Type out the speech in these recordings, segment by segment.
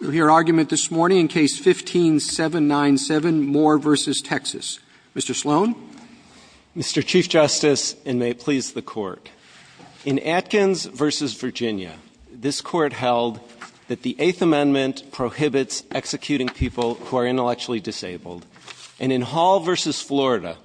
We'll hear argument this morning in Case 15-797, Moore v. Texas. Mr. Sloan? Mr. Chief Justice, and may it please the Court, in Atkins v. Virginia, this Court held that the Eighth Amendment prohibits executing people who are intellectually disabled. And in Hall v. Florida,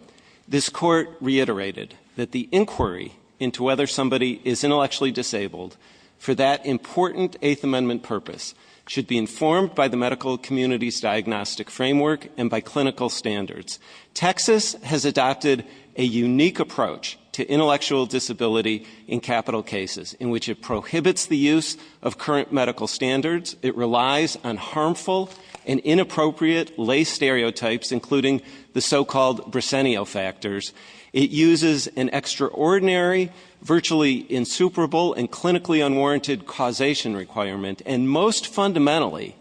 this Court reiterated that the inquiry into whether somebody is intellectually disabled for that important Eighth Amendment purpose should be informed by the medical community's diagnostic framework and by clinical standards. Texas has adopted a unique approach to intellectual disability in capital cases, in which it prohibits the use of current medical standards, it relies on harmful and inappropriate lay stereotypes, including the so-called Briseno factors, it uses an extraordinary, virtually insuperable, and clinically unwarranted causation requirement, and most fundamentally,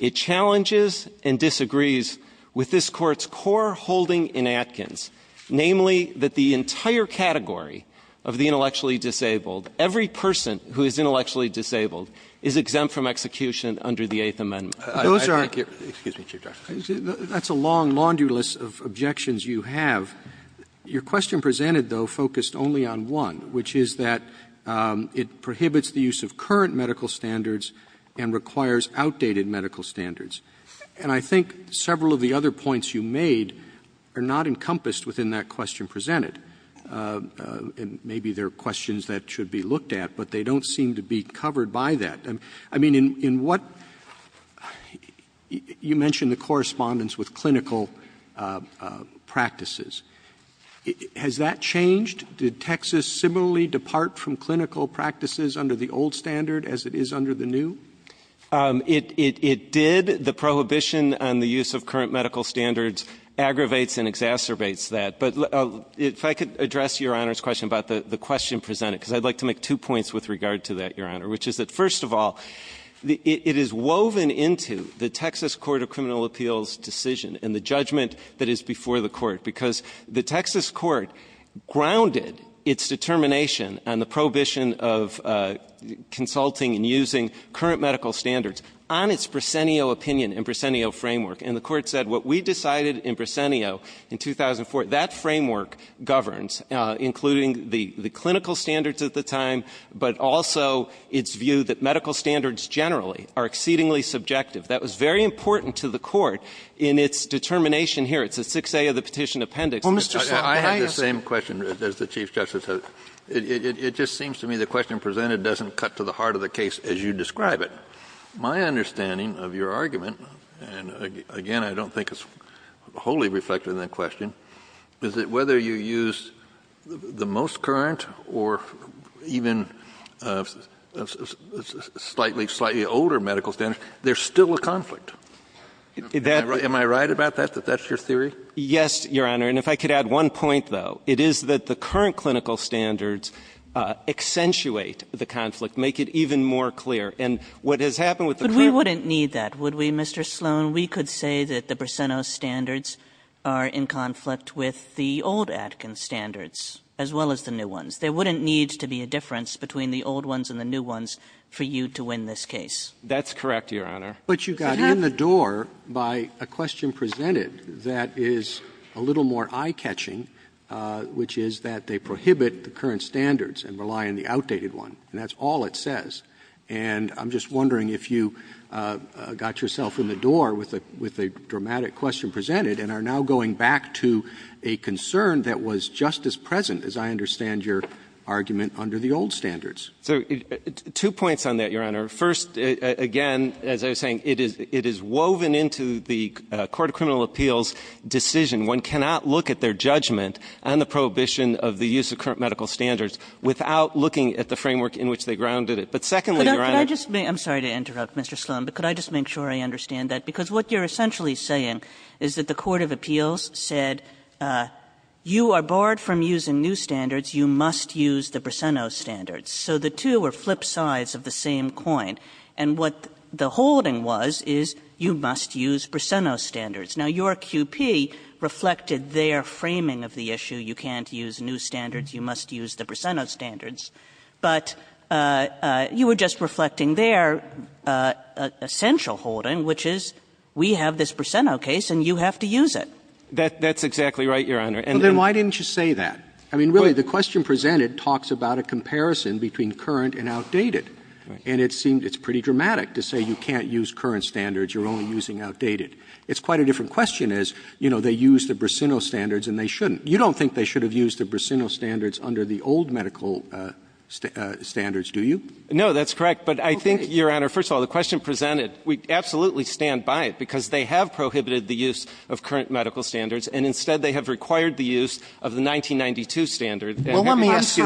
it challenges and disagrees with this Court's core holding in Atkins, namely that the entire category of the intellectually disabled, every person who is intellectually disabled, is exempt from execution under the Eighth Amendment. I think your question presented, though, focused only on one, which is that it prohibits the use of current medical standards and requires outdated medical standards. And I think several of the other points you made are not encompassed within that question presented. And maybe there are questions that should be looked at, but they don't seem to be covered by that. I mean, in what you mentioned the correspondence with clinical practices. Has that changed? Did Texas similarly depart from clinical practices under the old standard as it is under the new? It did. The prohibition on the use of current medical standards aggravates and exacerbates that. But if I could address Your Honor's question about the question presented, because I'd like to make two points with regard to that, Your Honor, which is that first of all, it is woven into the Texas Court of Criminal Appeals decision and the judgment that is before the Court, because the Texas Court grounded its determination on the prohibition of consulting and using current medical standards on its Bresenio opinion and Bresenio framework. And the Court said what we decided in Bresenio in 2004, that framework governs, including the clinical standards at the time, but also its view that medical standards generally are exceedingly subjective. That was very important to the Court in its determination here. It's at 6A of the Petition Appendix. Kennedy. I have the same question as the Chief Justice. It just seems to me the question presented doesn't cut to the heart of the case as you describe it. My understanding of your argument, and again I don't think it's wholly reflective of that question, is that whether you use the most current or even slightly older medical standards, there's still a conflict. Am I right about that, that that's your theory? Yes, Your Honor. And if I could add one point, though. It is that the current clinical standards accentuate the conflict, make it even more clear. And what has happened with the current ---- But we wouldn't need that, would we, Mr. Sloan? We could say that the Brisenos standards are in conflict with the old Atkins standards, as well as the new ones. There wouldn't need to be a difference between the old ones and the new ones for you to win this case. That's correct, Your Honor. But you got in the door by a question presented that is a little more eye-catching, which is that they prohibit the current standards and rely on the outdated one. And that's all it says. And I'm just wondering if you got yourself in the door with a dramatic question presented and are now going back to a concern that was just as present, as I understand your argument, under the old standards. Two points on that, Your Honor. First, again, as I was saying, it is woven into the Court of Criminal Appeals decision. One cannot look at their judgment on the prohibition of the use of current medical standards without looking at the framework in which they grounded it. But secondly, Your Honor ---- I'm sorry to interrupt, Mr. Sloan, but could I just make sure I understand that? Because what you're essentially saying is that the Court of Appeals said you are barred from using new standards. You must use the Brisenos standards. So the two are flip sides of the same coin. And what the holding was is you must use Brisenos standards. Now, your QP reflected their framing of the issue. You can't use new standards. You must use the Brisenos standards. But you were just reflecting their essential holding, which is we have this Brisenos case and you have to use it. That's exactly right, Your Honor. Well, then why didn't you say that? I mean, really, the question presented talks about a comparison between current and outdated. And it seemed it's pretty dramatic to say you can't use current standards, you're only using outdated. It's quite a different question as, you know, they use the Brisenos standards and they shouldn't. You don't think they should have used the Brisenos standards under the old medical standards, do you? No, that's correct. But I think, Your Honor, first of all, the question presented, we absolutely stand by it, because they have prohibited the use of current medical standards and instead they have required the use of the 1992 standard. Well, let me ask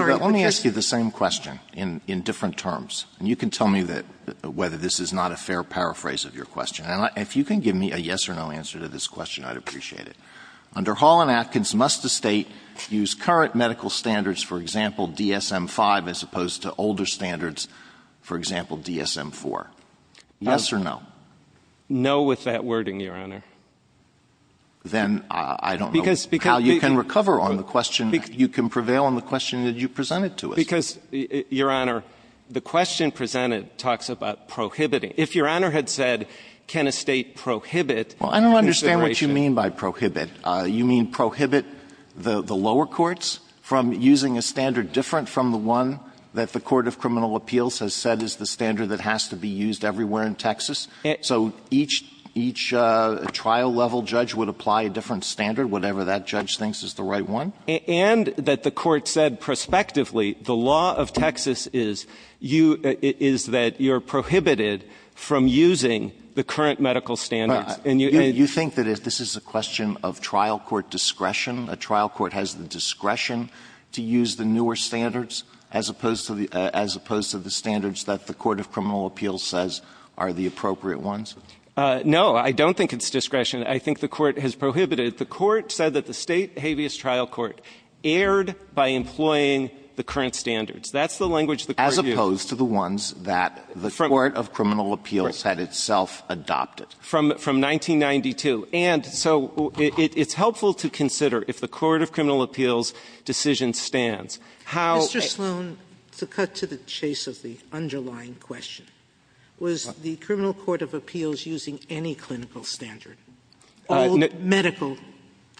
you the same question in different terms. And you can tell me whether this is not a fair paraphrase of your question. And if you can give me a yes or no answer to this question, I'd appreciate it. Under Holland-Atkins, must a State use current medical standards, for example, DSM-5, as opposed to older standards, for example, DSM-4? Yes or no? No with that wording, Your Honor. Then I don't know how you can recover on the question. You can prevail on the question that you presented to us. Because, Your Honor, the question presented talks about prohibiting. Well, I don't understand what you mean by prohibit. You mean prohibit the lower courts from using a standard different from the one that the Court of Criminal Appeals has said is the standard that has to be used everywhere in Texas? So each trial-level judge would apply a different standard, whatever that judge thinks is the right one? And that the Court said prospectively the law of Texas is that you're prohibited from using the current medical standards. You think that this is a question of trial court discretion? A trial court has the discretion to use the newer standards as opposed to the standards that the Court of Criminal Appeals says are the appropriate ones? No, I don't think it's discretion. I think the Court has prohibited. The Court said that the State habeas trial court erred by employing the current standards. That's the language the Court used. As opposed to the ones that the Court of Criminal Appeals had itself adopted. From 1992. And so it's helpful to consider, if the Court of Criminal Appeals' decision stands, how Mr. Sloan, to cut to the chase of the underlying question, was the Criminal Court of Appeals using any clinical standard, old medical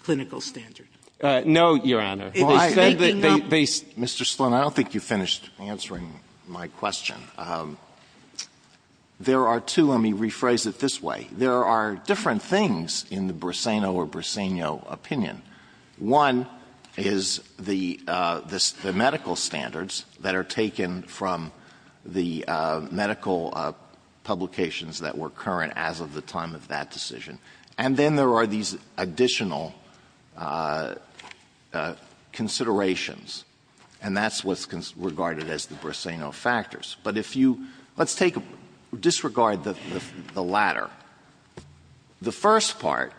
clinical standard? No, Your Honor. Mr. Sloan, I don't think you finished answering my question. There are two. Let me rephrase it this way. There are different things in the Brisseno or Brisseno opinion. One is the medical standards that are taken from the medical publications that were current as of the time of that decision. And then there are these additional considerations. And that's what's regarded as the Brisseno factors. But if you — let's take — disregard the latter. The first part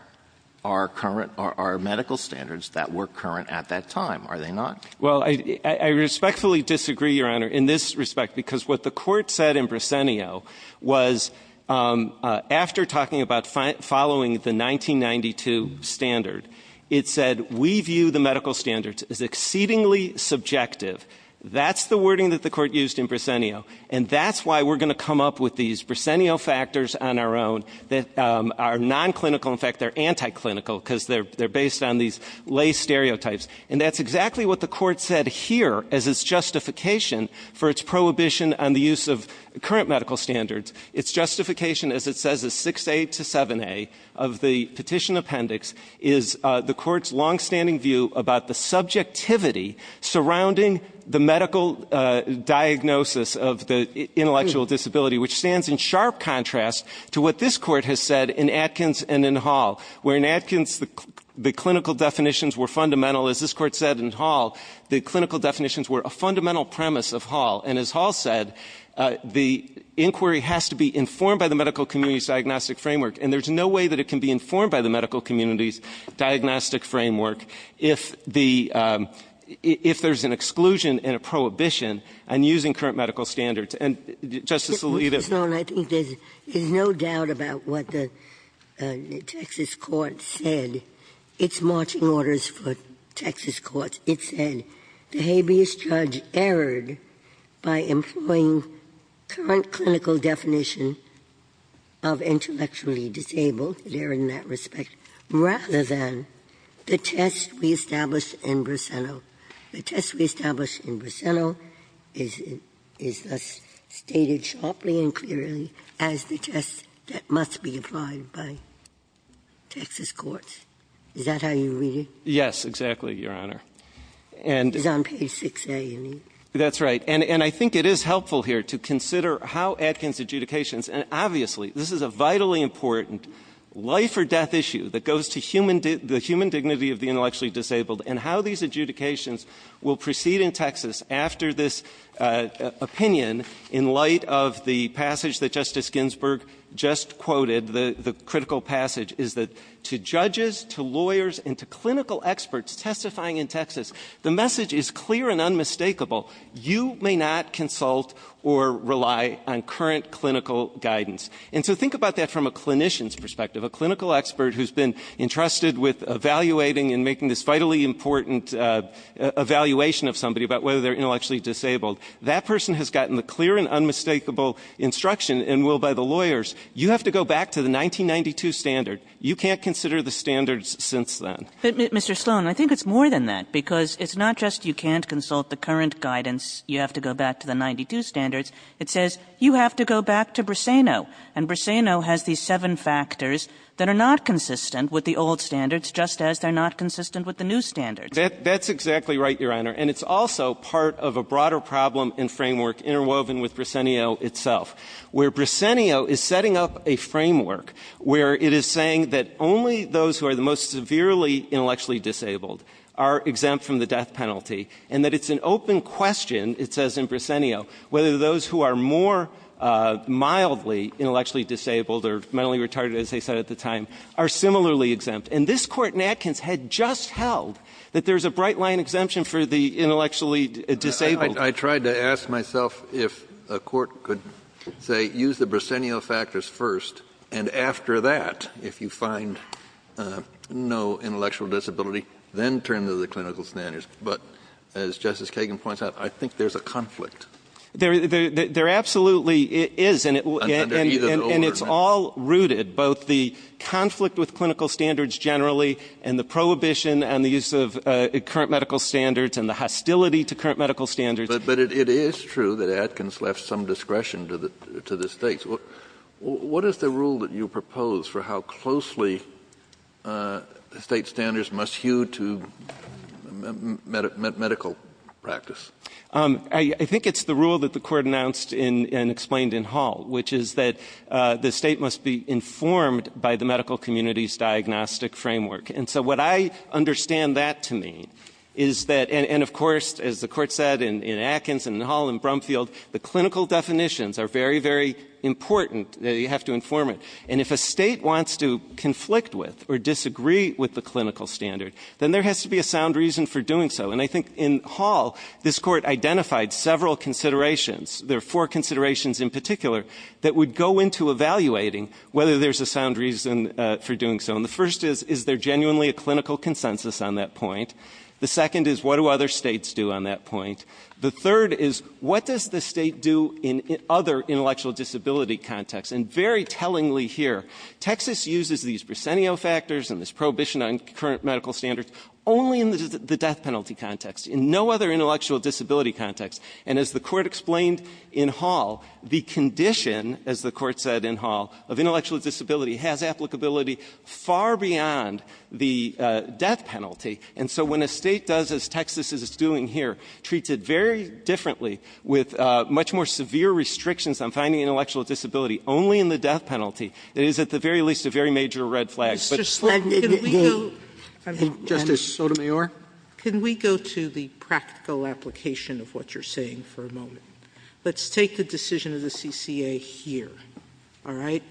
are current — are medical standards that were current at that time, are they not? Well, I respectfully disagree, Your Honor, in this respect, because what the Court said in Brisseno was, after talking about following the 1992 standard, it said, we view the medical standards as exceedingly subjective. That's the wording that the Court used in Brisseno. And that's why we're going to come up with these Brisseno factors on our own that are non-clinical. In fact, they're anti-clinical because they're based on these lay stereotypes. And that's exactly what the Court said here as its justification for its prohibition on the use of current medical standards. Its justification, as it says, is 6A to 7A of the petition appendix is the Court's long-standing view about the subjectivity surrounding the medical diagnosis of the intellectual disability, which stands in sharp contrast to what this Court has said in Atkins and in Hall, where in Atkins the clinical definitions were fundamental. As this Court said in Hall, the clinical definitions were a fundamental premise of Hall. And as Hall said, the inquiry has to be informed by the medical community's diagnostic framework. And there's no way that it can be informed by the medical community's diagnostic framework if the — if there's an exclusion and a prohibition on using current medical standards. And, Justice Alito. Ginsburg. I think there's no doubt about what the Texas court said. It's marching orders for Texas courts. It said the habeas judge erred by employing current clinical definition of intellectual disability, disabled, there in that respect, rather than the test we established in Briseno. The test we established in Briseno is thus stated sharply and clearly as the test that must be applied by Texas courts. Is that how you read it? Yes, exactly, Your Honor. It's on page 6A, isn't it? That's right. And I think it is helpful here to consider how Atkins' adjudications — and obviously this is a vitally important life-or-death issue that goes to human — the human dignity of the intellectually disabled and how these adjudications will proceed in Texas after this opinion in light of the passage that Justice Ginsburg just quoted, the critical passage, is that to judges, to lawyers, and to clinical experts testifying in Texas, the message is clear and unmistakable. You may not consult or rely on current clinical guidance. And so think about that from a clinician's perspective, a clinical expert who's been entrusted with evaluating and making this vitally important evaluation of somebody about whether they're intellectually disabled. That person has gotten the clear and unmistakable instruction and will, by the lawyers, you have to go back to the 1992 standard. You can't consider the standards since then. But, Mr. Sloan, I think it's more than that, because it's not just you can't consult the current guidance, you have to go back to the 1992 standards. It says you have to go back to Briseno. And Briseno has these seven factors that are not consistent with the old standards just as they're not consistent with the new standards. Sloan, Jr. That's exactly right, Your Honor. And it's also part of a broader problem and framework interwoven with Briseno itself, where Briseno is setting up a framework where it is saying that only those who are the most severely intellectually disabled are exempt from the death penalty and that it's an open question, it says in Briseno, whether those who are more mildly intellectually disabled or mentally retarded, as they said at the time, are similarly exempt. And this Court in Atkins had just held that there's a bright line exemption for the intellectually disabled. I tried to ask myself if a court could, say, use the Briseno factors first, and after that, if you find no intellectual disability, then turn to the clinical standards. But as Justice Kagan points out, I think there's a conflict. There absolutely is. And it's all rooted, both the conflict with clinical standards generally and the prohibition and the use of current medical standards and the hostility to current medical standards. But it is true that Atkins left some discretion to the States. What is the rule that you propose for how closely the State standards must hew to medical practice? I think it's the rule that the Court announced and explained in Hall, which is that the State must be informed by the medical community's diagnostic framework. And so what I understand that to mean is that, and of course, as the Court said in Atkins and in Hall and Brumfield, the clinical definitions are very, very important. You have to inform it. And if a State wants to conflict with or disagree with the clinical standard, then there has to be a sound reason for doing so. And I think in Hall, this Court identified several considerations. There are four considerations in particular that would go into evaluating whether there's a sound reason for doing so. And the first is, is there genuinely a clinical consensus on that point? The second is, what do other States do on that point? The third is, what does the State do in other intellectual disability contexts? And very tellingly here, Texas uses these Briseno factors and this prohibition on current medical standards only in the death penalty context, in no other intellectual disability context. And as the Court explained in Hall, the condition, as the Court said in Hall, of intellectual disability has applicability far beyond the death penalty. And so when a State does, as Texas is doing here, treats it very differently with much more severe restrictions on finding intellectual disability only in the death penalty, it is at the very least a very major red flag. JUSTICE SOTOMAYOR. Can we go to the practical application of what you're saying for a moment? Let's take the decision of the CCA here, all right?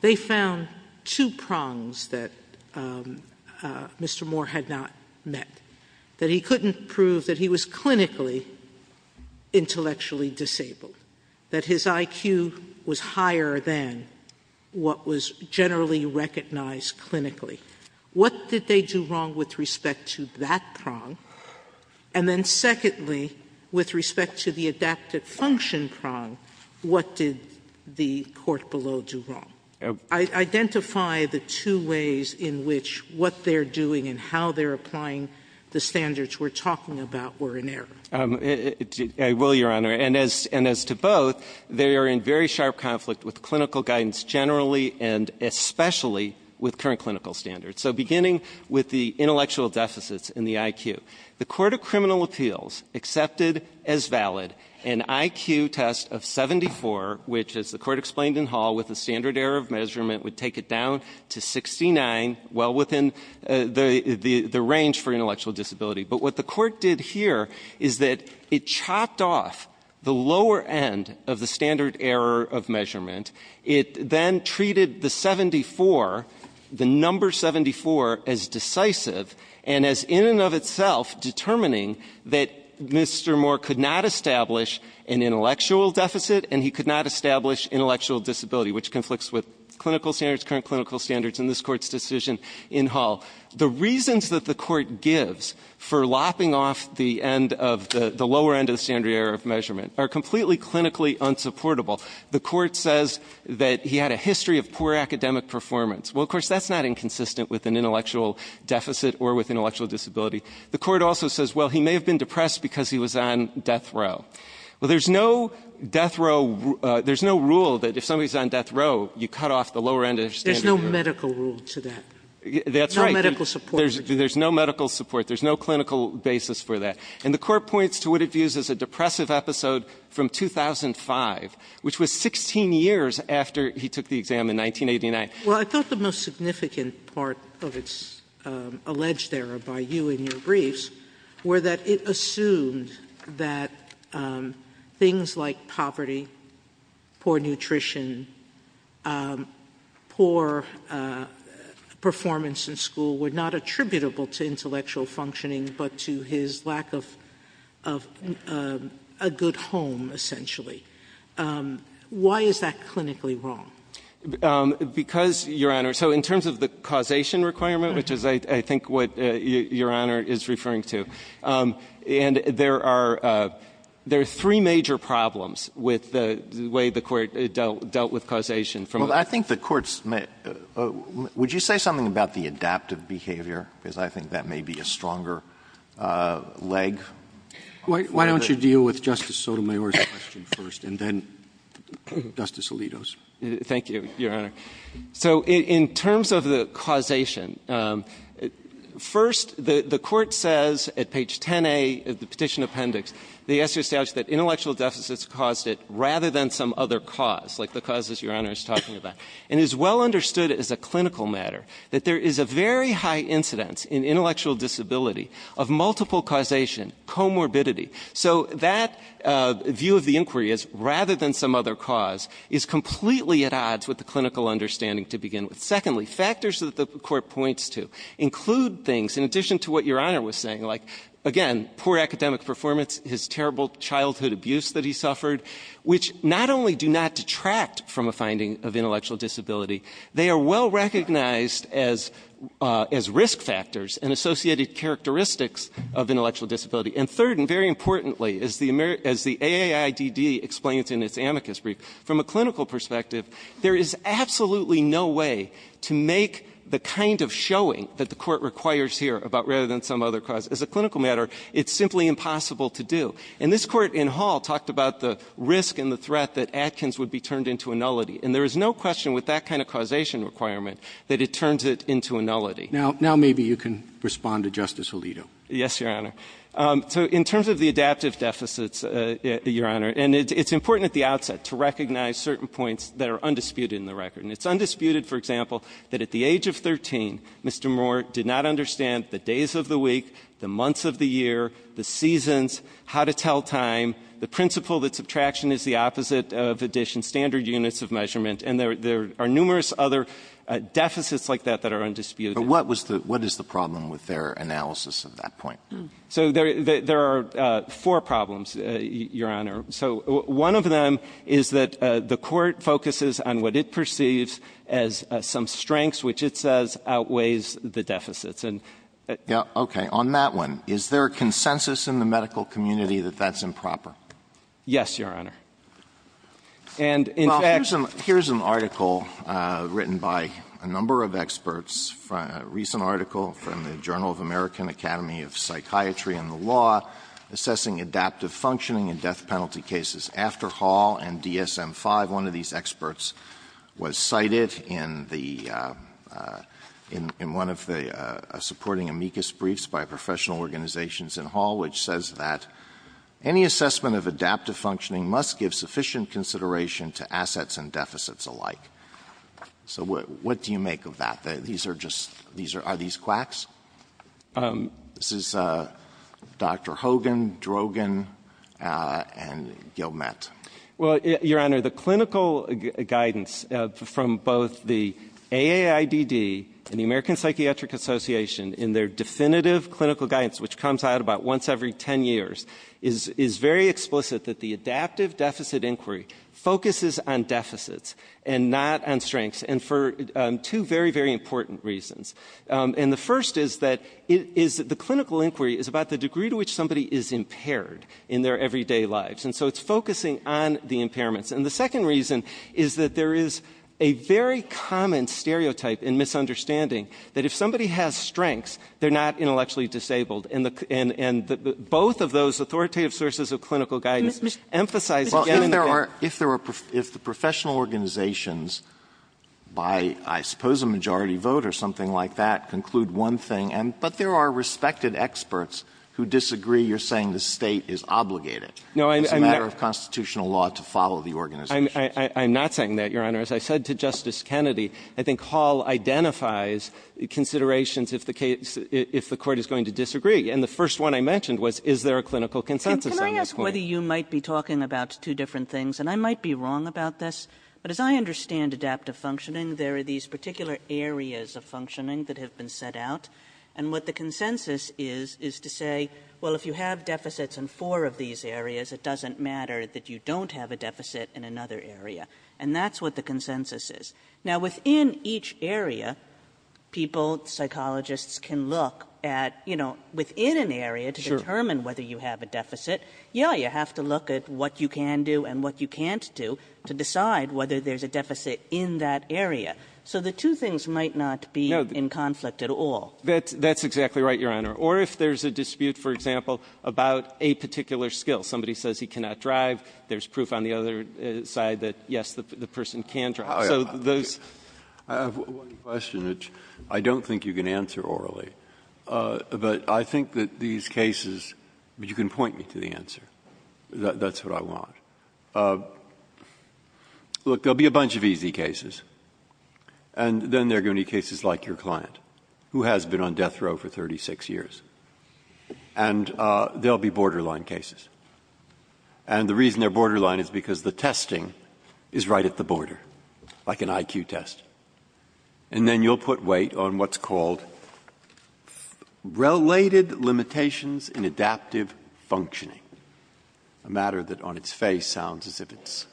They found two prongs that Mr. Moore had not met. That he couldn't prove that he was clinically intellectually disabled, that his IQ was higher than what was generally recognized clinically. What did they do wrong with respect to that prong? And then secondly, with respect to the adaptive function prong, what did the court below do wrong? Identify the two ways in which what they're doing and how they're applying the standards we're talking about were in error. GOLDSTEIN. I will, Your Honor. And as to both, they are in very sharp conflict with clinical guidance generally and especially with current clinical standards. So beginning with the intellectual deficits and the IQ, the Court of Criminal which, as the Court explained in Hall, with a standard error of measurement, would take it down to 69, well within the range for intellectual disability. But what the Court did here is that it chopped off the lower end of the standard error of measurement. It then treated the 74, the number 74, as decisive and as in and of itself determining that Mr. Moore could not establish an intellectual deficit and he could not establish intellectual disability, which conflicts with clinical standards, current clinical standards in this Court's decision in Hall. The reasons that the Court gives for lopping off the end of the lower end of the standard error of measurement are completely clinically unsupportable. The Court says that he had a history of poor academic performance. Well, of course, that's not inconsistent with an intellectual deficit or with intellectual disability. The Court also says, well, he may have been depressed because he was on death row. Well, there's no death row, there's no rule that if somebody's on death row, you cut off the lower end of the standard error. There's no medical rule to that. That's right. No medical support. There's no medical support. There's no clinical basis for that. And the Court points to what it views as a depressive episode from 2005, which was 16 years after he took the exam in 1989. Sotomayor Well, I thought the most significant part of its alleged error by you in your briefs were that it assumed that things like poverty, poor nutrition, poor performance in school were not attributable to intellectual functioning but to his lack of a good home, essentially. Why is that clinically wrong? Because, Your Honor, so in terms of the causation requirement, which is, I think, what Your Honor is referring to, and there are three major problems with the way the Court dealt with causation. Well, I think the Court's – would you say something about the adaptive behavior? Because I think that may be a stronger leg. Why don't you deal with Justice Sotomayor's question first and then Justice Alito's? Thank you, Your Honor. So in terms of the causation, first, the Court says at page 10A of the Petition Appendix, they ask you to establish that intellectual deficits caused it rather than some other cause, like the causes Your Honor is talking about. And it is well understood as a clinical matter that there is a very high incidence in intellectual disability of multiple causation, comorbidity. So that view of the inquiry is, rather than some other cause, is completely at odds with the clinical understanding to begin with. Secondly, factors that the Court points to include things, in addition to what Your Honor was saying, like, again, poor academic performance, his terrible childhood abuse that he suffered, which not only do not detract from a finding of intellectual disability, they are well recognized as risk factors and associated characteristics of intellectual disability. And third, and very importantly, as the AAIDD explains in its amicus brief, from a clinical perspective, there is absolutely no way to make the kind of showing that the Court requires here about rather than some other cause. As a clinical matter, it's simply impossible to do. And this Court in Hall talked about the risk and the threat that Atkins would be turned into a nullity. And there is no question with that kind of causation requirement that it turns it into a nullity. Now maybe you can respond to Justice Alito. Yes, Your Honor. So in terms of the adaptive deficits, Your Honor, and it's important at the outset to recognize certain points that are undisputed in the record. And it's undisputed, for example, that at the age of 13, Mr. Moore did not understand the days of the week, the months of the year, the seasons, how to tell time, the principle that subtraction is the opposite of addition, standard units of measurement. And there are numerous other deficits like that that are undisputed. But what is the problem with their analysis of that point? So there are four problems, Your Honor. So one of them is that the Court focuses on what it perceives as some strengths which it says outweighs the deficits. Okay. On that one, is there a consensus in the medical community that that's improper? Yes, Your Honor. Well, here's an article written by a number of experts, a recent article from the Journal of American Academy of Psychiatry and the Law assessing adaptive functioning in death penalty cases after Hall and DSM-5. One of these experts was cited in the one of the supporting amicus briefs by professional organizations in Hall, which says that any assessment of adaptive functioning must give sufficient consideration to assets and deficits alike. So what do you make of that? These are just are these quacks? This is Dr. Hogan, Drogan, and Gilmette. Well, Your Honor, the clinical guidance from both the AAIDD and the American Academy of Psychiatry, which comes out about once every 10 years, is very explicit that the adaptive deficit inquiry focuses on deficits and not on strengths, and for two very, very important reasons. And the first is that the clinical inquiry is about the degree to which somebody is impaired in their everyday lives, and so it's focusing on the impairments. And the second reason is that there is a very common stereotype and both of those authoritative sources of clinical guidance emphasize again and again Well, if there are professional organizations by, I suppose, a majority vote or something like that conclude one thing, but there are respected experts who disagree. You're saying the State is obligated. No, I'm not. It's a matter of constitutional law to follow the organization. I'm not saying that, Your Honor. As I said to Justice Kennedy, I think Hall identifies considerations if the case if the court is going to disagree. And the first one I mentioned was, is there a clinical consensus on this point? Can I ask whether you might be talking about two different things? And I might be wrong about this, but as I understand adaptive functioning, there are these particular areas of functioning that have been set out, and what the consensus is is to say, well, if you have deficits in four of these areas, it doesn't matter that you don't have a deficit in another area. And that's what the consensus is. Now, within each area, people, psychologists can look at, you know, within an area to determine whether you have a deficit. Yeah, you have to look at what you can do and what you can't do to decide whether there's a deficit in that area. So the two things might not be in conflict at all. That's exactly right, Your Honor. Or if there's a dispute, for example, about a particular skill. Somebody says he cannot drive. There's proof on the other side that, yes, the person can drive. So there's one question which I don't think you can answer orally, but I think that these cases you can point me to the answer. That's what I want. Look, there will be a bunch of easy cases, and then there are going to be cases like your client, who has been on death row for 36 years. And there will be borderline cases. And the reason they're borderline is because the testing is right at the border. Like an IQ test. And then you'll put weight on what's called related limitations in adaptive functioning, a matter that on its face sounds as if it's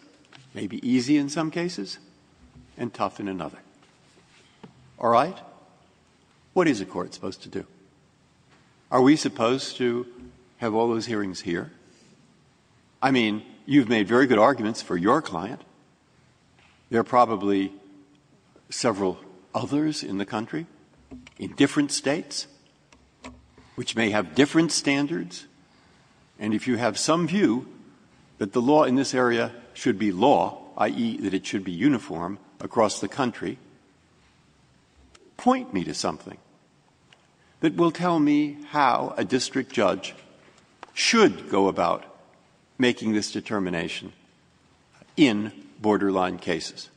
maybe easy in some cases and tough in another. All right? What is a court supposed to do? Are we supposed to have all those hearings here? I mean, you've made very good arguments for your client. There are probably several others in the country, in different States, which may have different standards. And if you have some view that the law in this area should be law, i.e., that it should be uniform across the country, point me to something that will tell me how a district judge should go about making this determination in borderline cases.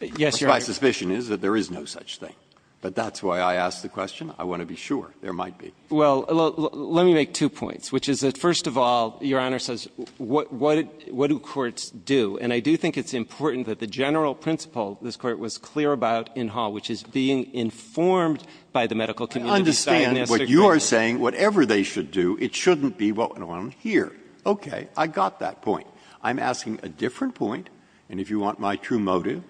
Yes, Your Honor. My suspicion is that there is no such thing. But that's why I asked the question. I want to be sure. There might be. Well, let me make two points, which is that, first of all, Your Honor says, what do courts do? And I do think it's important that the general principle this Court was clear about in Hall, which is being informed by the medical community. I understand what you are saying. Whatever they should do, it shouldn't be what went on here. Okay. I got that point. I'm asking a different point. And if you want my true motive,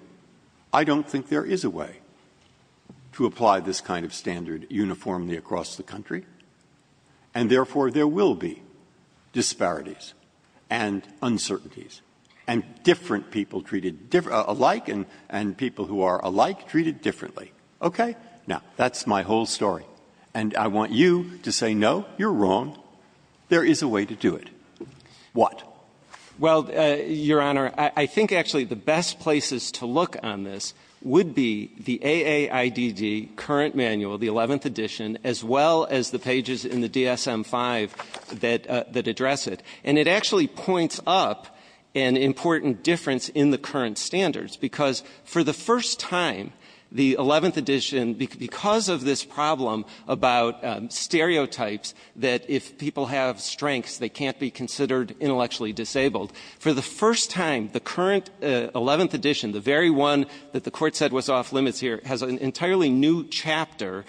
I don't think there is a way to apply this kind of standard uniformly across the country. And, therefore, there will be disparities and uncertainties and different people treated alike and people who are alike treated differently. Okay? Now, that's my whole story. And I want you to say, no, you're wrong. There is a way to do it. What? Well, Your Honor, I think, actually, the best places to look on this would be the AAIDD current manual, the 11th edition, as well as the pages in the DSM-5 that address it. And it actually points up an important difference in the current standards, because for the first time, the 11th edition, because of this problem about stereotypes that if people have strengths, they can't be considered intellectually disabled, for the first time, the current 11th edition, the very one that the court said was off limits here, has an entirely new chapter,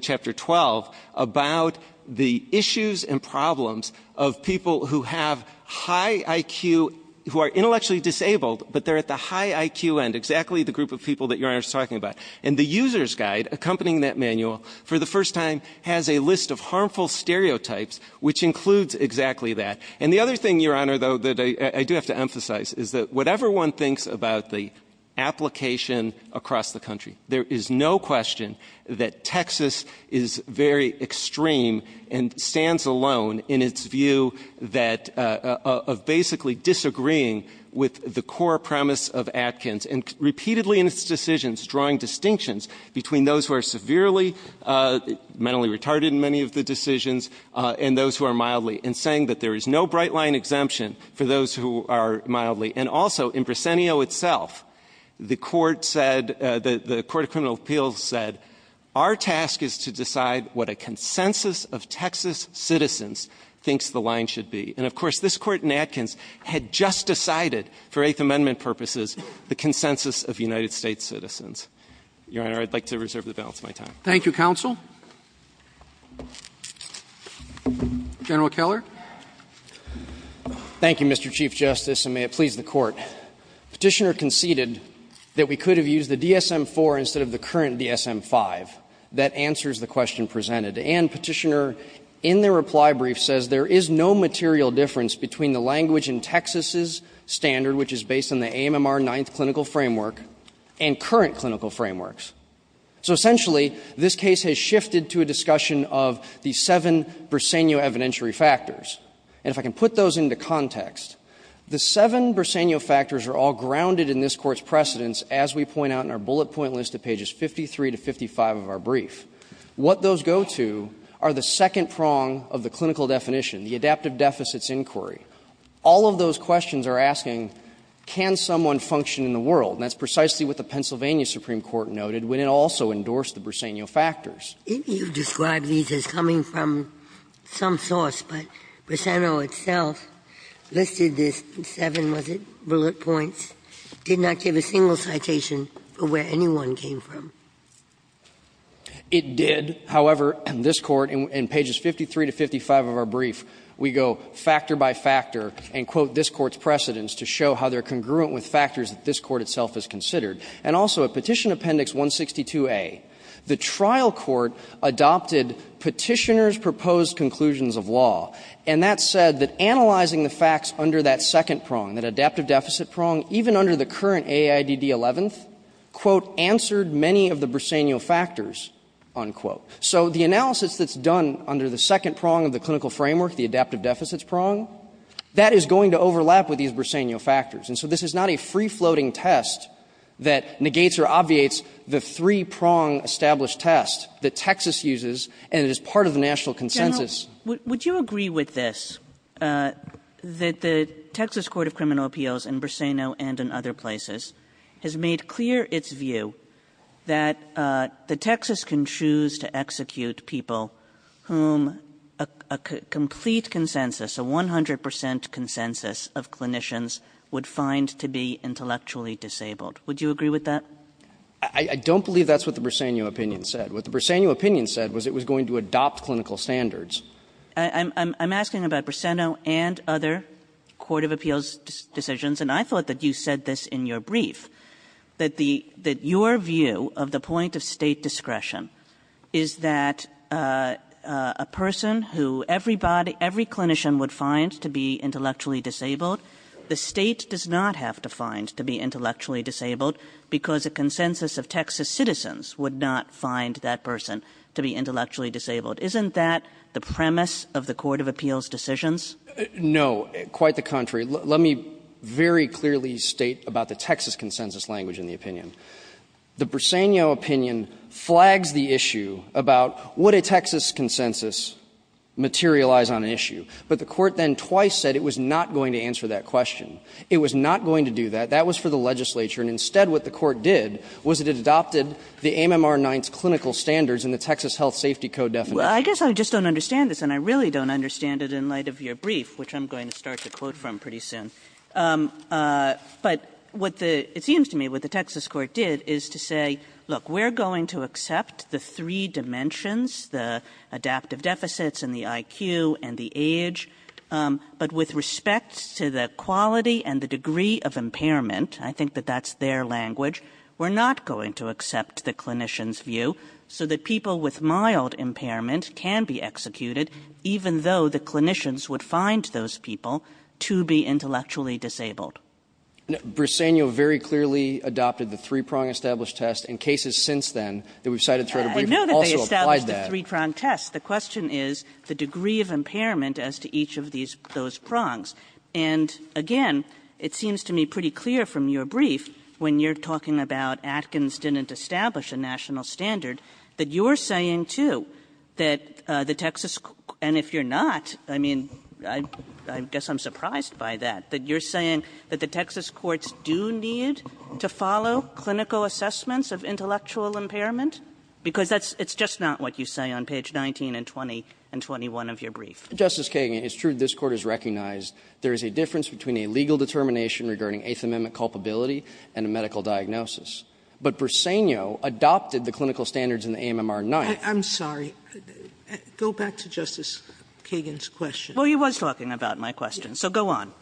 chapter 12, about the issues and problems of people who have high IQ, who are intellectually disabled, but they have high IQ, and exactly the group of people that Your Honor is talking about. And the user's guide accompanying that manual, for the first time, has a list of harmful stereotypes, which includes exactly that. And the other thing, Your Honor, though, that I do have to emphasize is that whatever one thinks about the application across the country, there is no question that Texas is very extreme and stands alone in its view of basically disagreeing with the core premise of Atkins. And repeatedly in its decisions, drawing distinctions between those who are severely mentally retarded in many of the decisions and those who are mildly, and saying that there is no bright line exemption for those who are mildly. And also, in Briseno itself, the court said, the Court of Criminal Appeals said, our task is to decide what a consensus of Texas citizens thinks the line should be. And of course, this Court in Atkins had just decided, for Eighth Amendment purposes, the consensus of United States citizens. Your Honor, I'd like to reserve the balance of my time. Roberts. Thank you, counsel. General Keller. Keller. Thank you, Mr. Chief Justice, and may it please the Court. Petitioner conceded that we could have used the DSM-IV instead of the current DSM-V. That answers the question presented. And Petitioner, in their reply brief, says there is no material difference between the language in Texas's standard, which is based on the AMMR Ninth Clinical Framework, and current clinical frameworks. So essentially, this case has shifted to a discussion of the seven Briseno evidentiary factors. And if I can put those into context, the seven Briseno factors are all grounded in this Court's precedence, as we point out in our bullet point list at pages 53 to 55 of our brief. What those go to are the second prong of the clinical definition, the adaptive deficits inquiry. All of those questions are asking, can someone function in the world? And that's precisely what the Pennsylvania Supreme Court noted when it also endorsed the Briseno factors. Ginsburg. You describe these as coming from some source, but Briseno itself listed this in seven, was it, bullet points, did not give a single citation for where anyone came from. It did. However, this Court, in pages 53 to 55 of our brief, we go factor by factor and quote this Court's precedence to show how they're congruent with factors that this Court itself has considered. And also, at Petition Appendix 162A, the trial court adopted Petitioner's proposed conclusions of law. And that said that analyzing the facts under that second prong, that adaptive deficit prong, even under the current AIDD 11th, quote, answered many of the Briseno factors, unquote. So the analysis that's done under the second prong of the clinical framework, the adaptive deficits prong, that is going to overlap with these Briseno factors. And so this is not a free-floating test that negates or obviates the three-prong established test that Texas uses and that is part of the national consensus. Kagan. Would you agree with this, that the Texas Court of Criminal Appeals in Briseno and in other places has made clear its view that the Texas can choose to execute people whom a complete consensus, a 100 percent consensus of clinicians would find to be intellectually disabled? Would you agree with that? I don't believe that's what the Briseno opinion said. What the Briseno opinion said was it was going to adopt clinical standards. I'm asking about Briseno and other court of appeals decisions, and I thought that you said this in your brief, that the – that your view of the point of State discretion is that a person who everybody – every clinician would find to be intellectually disabled, the State does not have to find to be intellectually disabled because a consensus of Texas citizens would not find that person to be intellectually disabled. Isn't that the premise of the court of appeals decisions? No. Quite the contrary. Let me very clearly state about the Texas consensus language in the opinion. The Briseno opinion flags the issue about would a Texas consensus materialize on an issue. But the court then twice said it was not going to answer that question. It was not going to do that. That was for the legislature. And instead what the court did was that it adopted the AMMR 9th's clinical standards in the Texas Health Safety Code definition. Well, I guess I just don't understand this, and I really don't understand it in light of your brief, which I'm going to start to quote from pretty soon. But what the – it seems to me what the Texas court did is to say, look, we're going to accept the three dimensions, the adaptive deficits and the IQ and the age, but with respect to the quality and the degree of impairment, I think that that's their language, we're not going to accept the clinician's view so that people with mild impairment can be executed, even though the clinicians would find those people to be intellectually disabled. Briseno very clearly adopted the three-prong established test. In cases since then that we've cited throughout a brief also applies that. Kagan. Kagan. The question is the degree of impairment as to each of these – those prongs. And, again, it seems to me pretty clear from your brief, when you're talking about Atkins didn't establish a national standard, that you're saying, too, that the Texas – and if you're not, I mean, I guess I'm surprised by that, that you're saying that the Texas courts do need to follow clinical assessments of intellectual impairment, because that's – it's just not what you say on page 19 and 20 and 21 of your brief. Justice Kagan, it's true this Court has recognized there is a difference between a legal determination regarding Eighth Amendment culpability and a medical diagnosis. But Briseno adopted the clinical standards in the AMMR-9. I'm sorry. Go back to Justice Kagan's question. Well, he was talking about my question, so go on.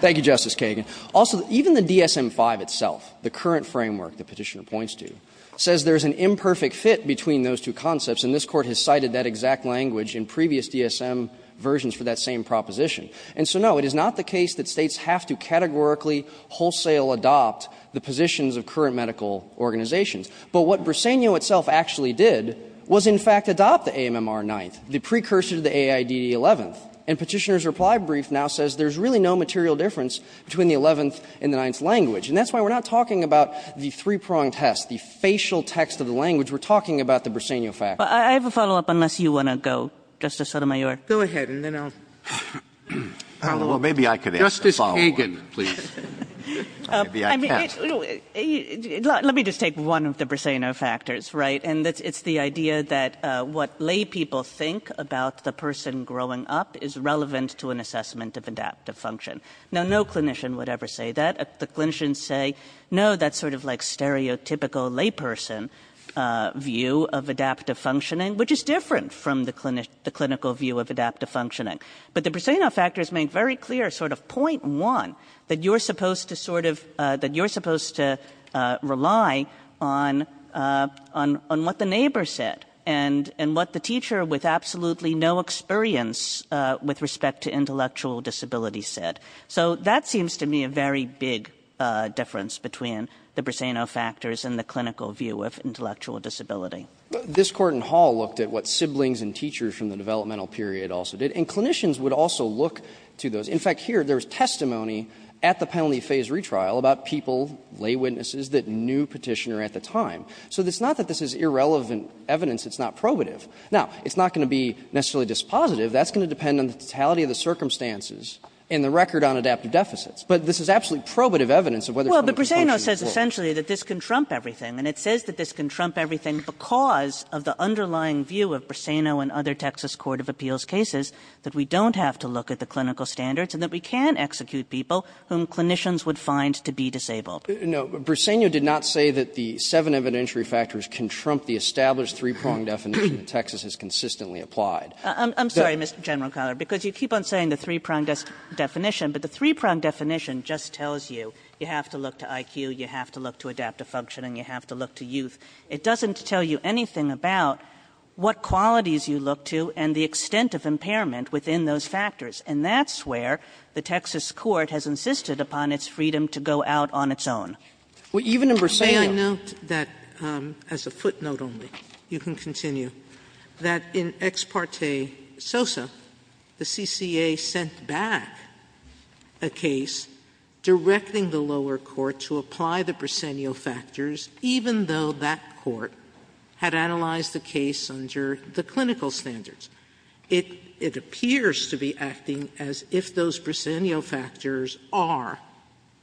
Thank you, Justice Kagan. Also, even the DSM-5 itself, the current framework that Petitioner points to, says there is an imperfect fit between those two concepts, and this Court has cited that exact language in previous DSM versions for that same proposition. And so, no, it is not the case that States have to categorically wholesale adopt the positions of current medical organizations. But what Briseno itself actually did was, in fact, adopt the AMMR-9, the precursor to the AIDD-11. And Petitioner's reply brief now says there is really no material difference between the Eleventh and the Ninth language. And that's why we're not talking about the three-pronged test, the facial text of the language. We're talking about the Briseno factors. I have a follow-up, unless you want to go, Justice Sotomayor. Go ahead, and then I'll follow up. Well, maybe I could add a follow-up. Justice Kagan, please. Maybe I can. Let me just take one of the Briseno factors, right? And it's the idea that what laypeople think about the person growing up is relevant to an assessment of adaptive function. Now, no clinician would ever say that. The clinicians say, no, that's sort of like stereotypical layperson view of adaptive functioning, which is different from the clinical view of adaptive functioning. But the Briseno factors make very clear sort of point one, that you're supposed to sort of, that you're supposed to rely on what the neighbor said and what the teacher with So that seems to me a very big difference between the Briseno factors and the clinical view of intellectual disability. This Court in Hall looked at what siblings and teachers from the developmental period also did. And clinicians would also look to those. In fact, here, there was testimony at the penalty phase retrial about people, lay witnesses, that knew Petitioner at the time. So it's not that this is irrelevant evidence. It's not probative. Now, it's not going to be necessarily dispositive. That's going to depend on the totality of the circumstances. And the record on adaptive deficits. But this is absolutely probative evidence of whether someone can function at all. Kagan. Well, but Briseno says essentially that this can trump everything. And it says that this can trump everything because of the underlying view of Briseno and other Texas court of appeals cases, that we don't have to look at the clinical standards and that we can execute people whom clinicians would find to be disabled. No. Briseno did not say that the seven evidentiary factors can trump the established three-prong definition that Texas has consistently applied. Kagan. I'm sorry, Mr. General Collier, because you keep on saying the three-prong definition, but the three-prong definition just tells you you have to look to IQ, you have to look to adaptive functioning, you have to look to youth. It doesn't tell you anything about what qualities you look to and the extent of impairment within those factors. And that's where the Texas court has insisted upon its freedom to go out on its own. Sotomayor. Sotomayor, may I note that, as a footnote only, you can continue, that in Ex Parte Sosa, the CCA sent back a case directing the lower court to apply the Briseno factors, even though that court had analyzed the case under the clinical standards. It appears to be acting as if those Briseno factors are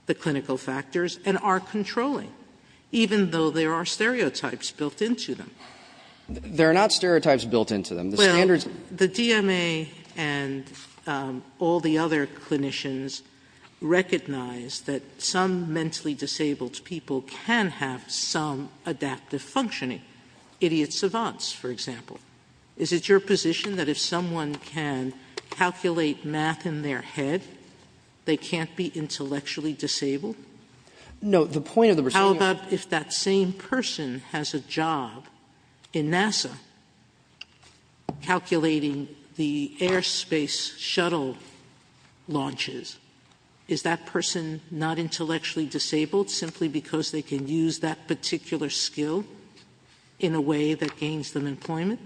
the clinical factors and are controlling, even though there are stereotypes built into them. They are not stereotypes built into them. The standards are not. Well, the DMA and all the other clinicians recognize that some mentally disabled people can have some adaptive functioning, idiot savants, for example. Is it your position that if someone can calculate math in their head, they can't be intellectually disabled? No. The point of the Briseno lawsuit is that if that same person has a job in NASA calculating the airspace shuttle launches, is that person not intellectually disabled simply because they can use that particular skill in a way that gains them employment?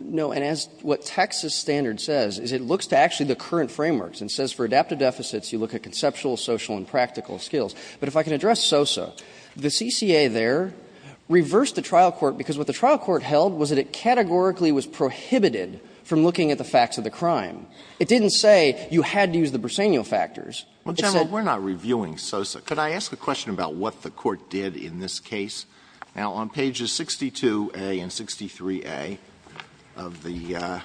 No. And as what Texas standard says is it looks to actually the current frameworks and says for adaptive deficits, you look at conceptual, social, and practical skills. But if I can address SOSA, the CCA there reversed the trial court because what the trial court held was that it categorically was prohibited from looking at the facts of the crime. It didn't say you had to use the Briseno factors. It said the court was not going to use the Briseno factors. Alito, we're not reviewing SOSA. Could I ask a question about what the court did in this case? Now, on pages 62a and 63a of the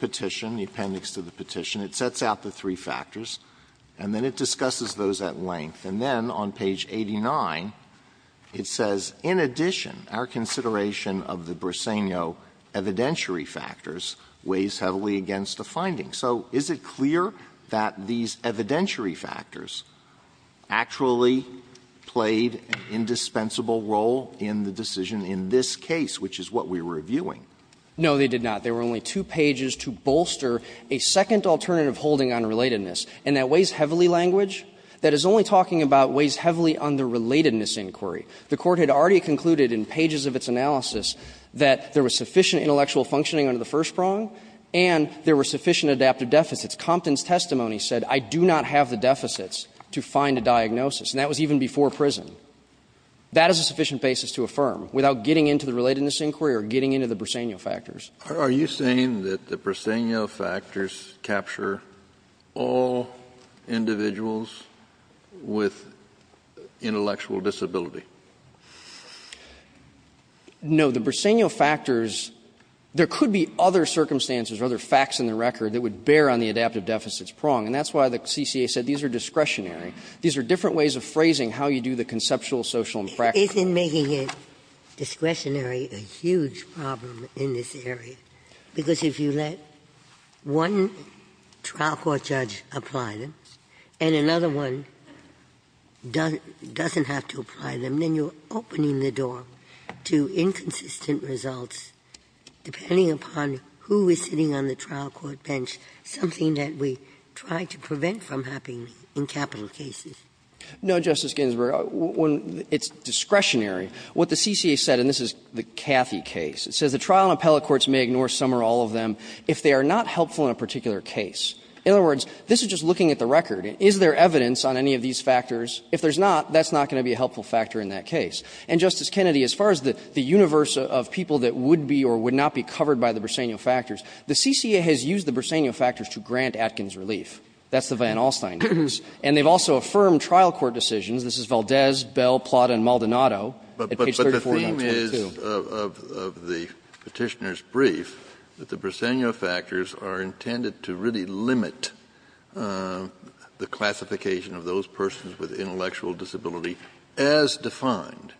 petition, the appendix to the petition, it sets out the three factors, and then it discusses those at length. And then on page 89, it says, In addition, our consideration of the Briseno evidentiary factors weighs heavily against the findings. So is it clear that these evidentiary factors actually played an indispensable role in the decision in this case, which is what we're reviewing? No, they did not. They were only two pages to bolster a second alternative holding on relatedness. And that weighs heavily language? That is only talking about weighs heavily on the relatedness inquiry. The court had already concluded in pages of its analysis that there was sufficient intellectual functioning under the first prong, and there were sufficient adaptive deficits. Compton's testimony said, I do not have the deficits to find a diagnosis, and that was even before prison. That is a sufficient basis to affirm, without getting into the relatedness inquiry or getting into the Briseno factors. Kennedy, are you saying that the Briseno factors capture all individuals with intellectual disability? No. The Briseno factors, there could be other circumstances or other facts in the record that would bear on the adaptive deficits prong, and that's why the CCA said these are discretionary. These are different ways of phrasing how you do the conceptual, social, and practical factors. Isn't making it discretionary a huge problem in this area? Because if you let one trial court judge apply them, and another one doesn't have to apply them, then you're opening the door to inconsistent results, depending upon who is sitting on the trial court bench, something that we try to prevent from happening in capital cases. No, Justice Ginsburg. When it's discretionary, what the CCA said, and this is the Cathy case, it says the trial and appellate courts may ignore some or all of them if they are not helpful in a particular case. In other words, this is just looking at the record. Is there evidence on any of these factors? If there's not, that's not going to be a helpful factor in that case. And, Justice Kennedy, as far as the universe of people that would be or would not be covered by the Briseno factors, the CCA has used the Briseno factors to grant Atkins relief. That's the Van Alstyne case. And they've also affirmed trial court decisions. This is Valdez, Bell, Plata, and Maldonado at page 34. Kennedy, but the theme is, of the Petitioner's brief, that the Briseno factors are intended to really limit the classification of those persons with intellectual disability as defined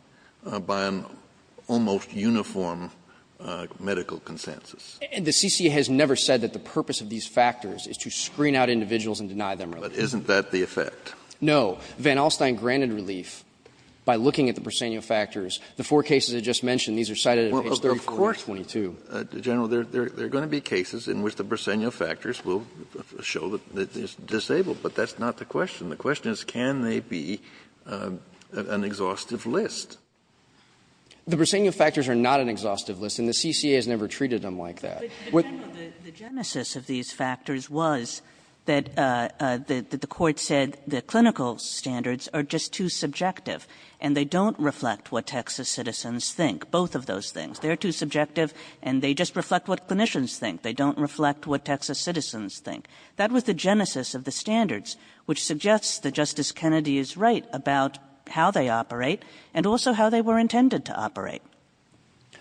by an almost uniform medical consensus. And the CCA has never said that the purpose of these factors is to screen out individuals and deny them relief. But isn't that the effect? No. Van Alstyne granted relief by looking at the Briseno factors. The four cases I just mentioned, these are cited at page 34 and 22. Kennedy, of course. Kennedy, General, there are going to be cases in which the Briseno factors will show that it's disabled, but that's not the question. The question is, can they be an exhaustive list? The Briseno factors are not an exhaustive list, and the CCA has never treated them like that. Kagan. Kagan. The genesis of these factors was that the court said the clinical standards are just too subjective, and they don't reflect what Texas citizens think, both of those things. They are too subjective and they just reflect what clinicians think. They don't reflect what Texas citizens think. That was the genesis of the standards, which suggests that Justice Kennedy is right about how they operate and also how they were intended to operate.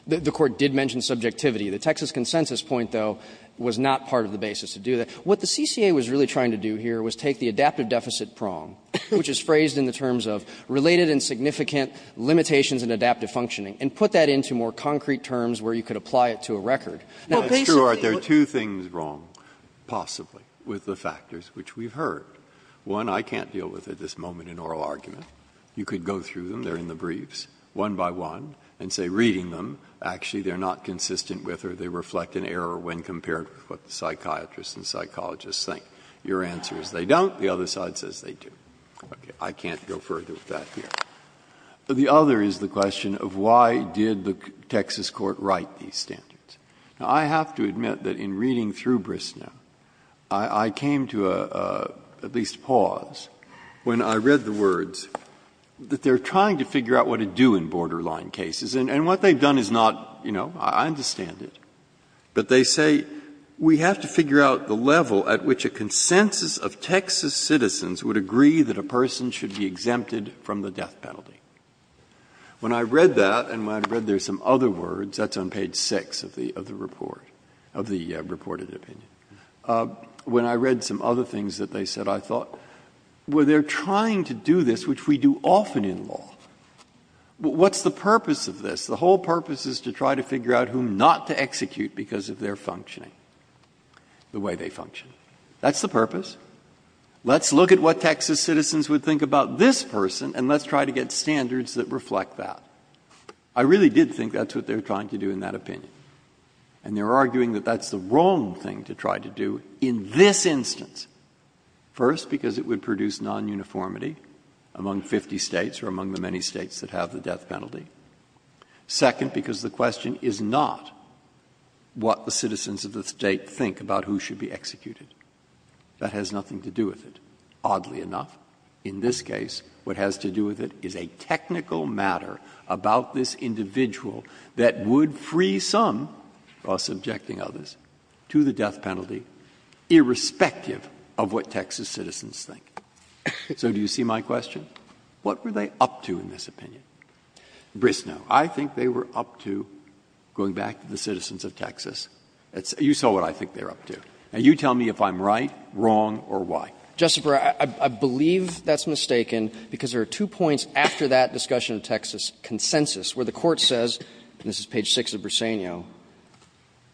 The Court did mention subjectivity. The Texas consensus point, though, was not part of the basis to do that. What the CCA was really trying to do here was take the adaptive deficit prong, which is phrased in the terms of related and significant limitations in adaptive functioning, and put that into more concrete terms where you could apply it to a record. Now, basically what you're saying is that there are two things wrong, possibly, with the factors, which we've heard. One, I can't deal with at this moment in oral argument. You could go through them, they're in the briefs, one by one, and say, reading them, actually they're not consistent with or they reflect an error when compared with what the psychiatrists and psychologists think. Your answer is they don't, the other side says they do. I can't go further with that here. The other is the question of why did the Texas court write these standards? Now, I have to admit that in reading through Bristnow, I came to a, at least, pause when I read the words that they're trying to figure out what to do in borderline cases, and what they've done is not, you know, I understand it, but they say, we have to figure out the level at which a consensus of Texas citizens would agree that a person should be exempted from the death penalty. When I read that, and when I read there's some other words, that's on page 6 of the report, of the reported opinion. When I read some other things that they said, I thought, well, they're trying to do this, which we do often in law. What's the purpose of this? The whole purpose is to try to figure out whom not to execute because of their functioning, the way they function. That's the purpose. Let's look at what Texas citizens would think about this person, and let's try to get standards that reflect that. I really did think that's what they were trying to do in that opinion. And they're arguing that that's the wrong thing to try to do in this instance. First, because it would produce non-uniformity among 50 States or among the many States that have the death penalty. Second, because the question is not what the citizens of the State think about who should be executed. That has nothing to do with it. Oddly enough, in this case, what has to do with it is a technical matter about this individual that would free some, while subjecting others, to the death penalty irrespective of what Texas citizens think. So do you see my question? What were they up to in this opinion? Brisno, I think they were up to, going back to the citizens of Texas, you saw what I think they're up to. Now, you tell me if I'm right, wrong, or why. Bursano, I believe that's mistaken because there are two points after that discussion of Texas consensus where the Court says, and this is page 6 of Briseno,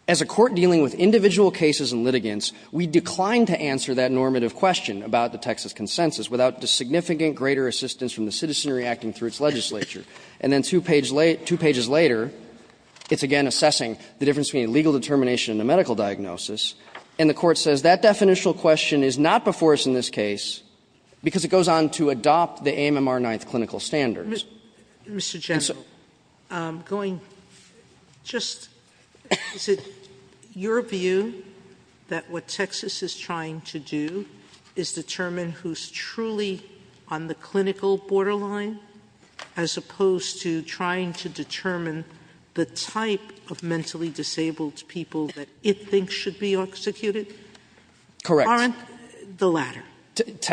as a court dealing with individual cases and litigants, we declined to answer that normative question about the Texas consensus without the significant greater assistance from the citizen reacting through its legislature. And then two pages later, it's again assessing the difference between a legal determination and a medical diagnosis, and the Court says that definitional question is not before us in this case because it goes on to adopt the AMR 9th clinical standards. Sotomayor, Mr. General, going, just, is it your view that what Texas is trying to do is determine who's truly on the clinical borderline as opposed to trying to determine the type of mentally disabled people that it thinks should be executed? Correct. Aren't the latter?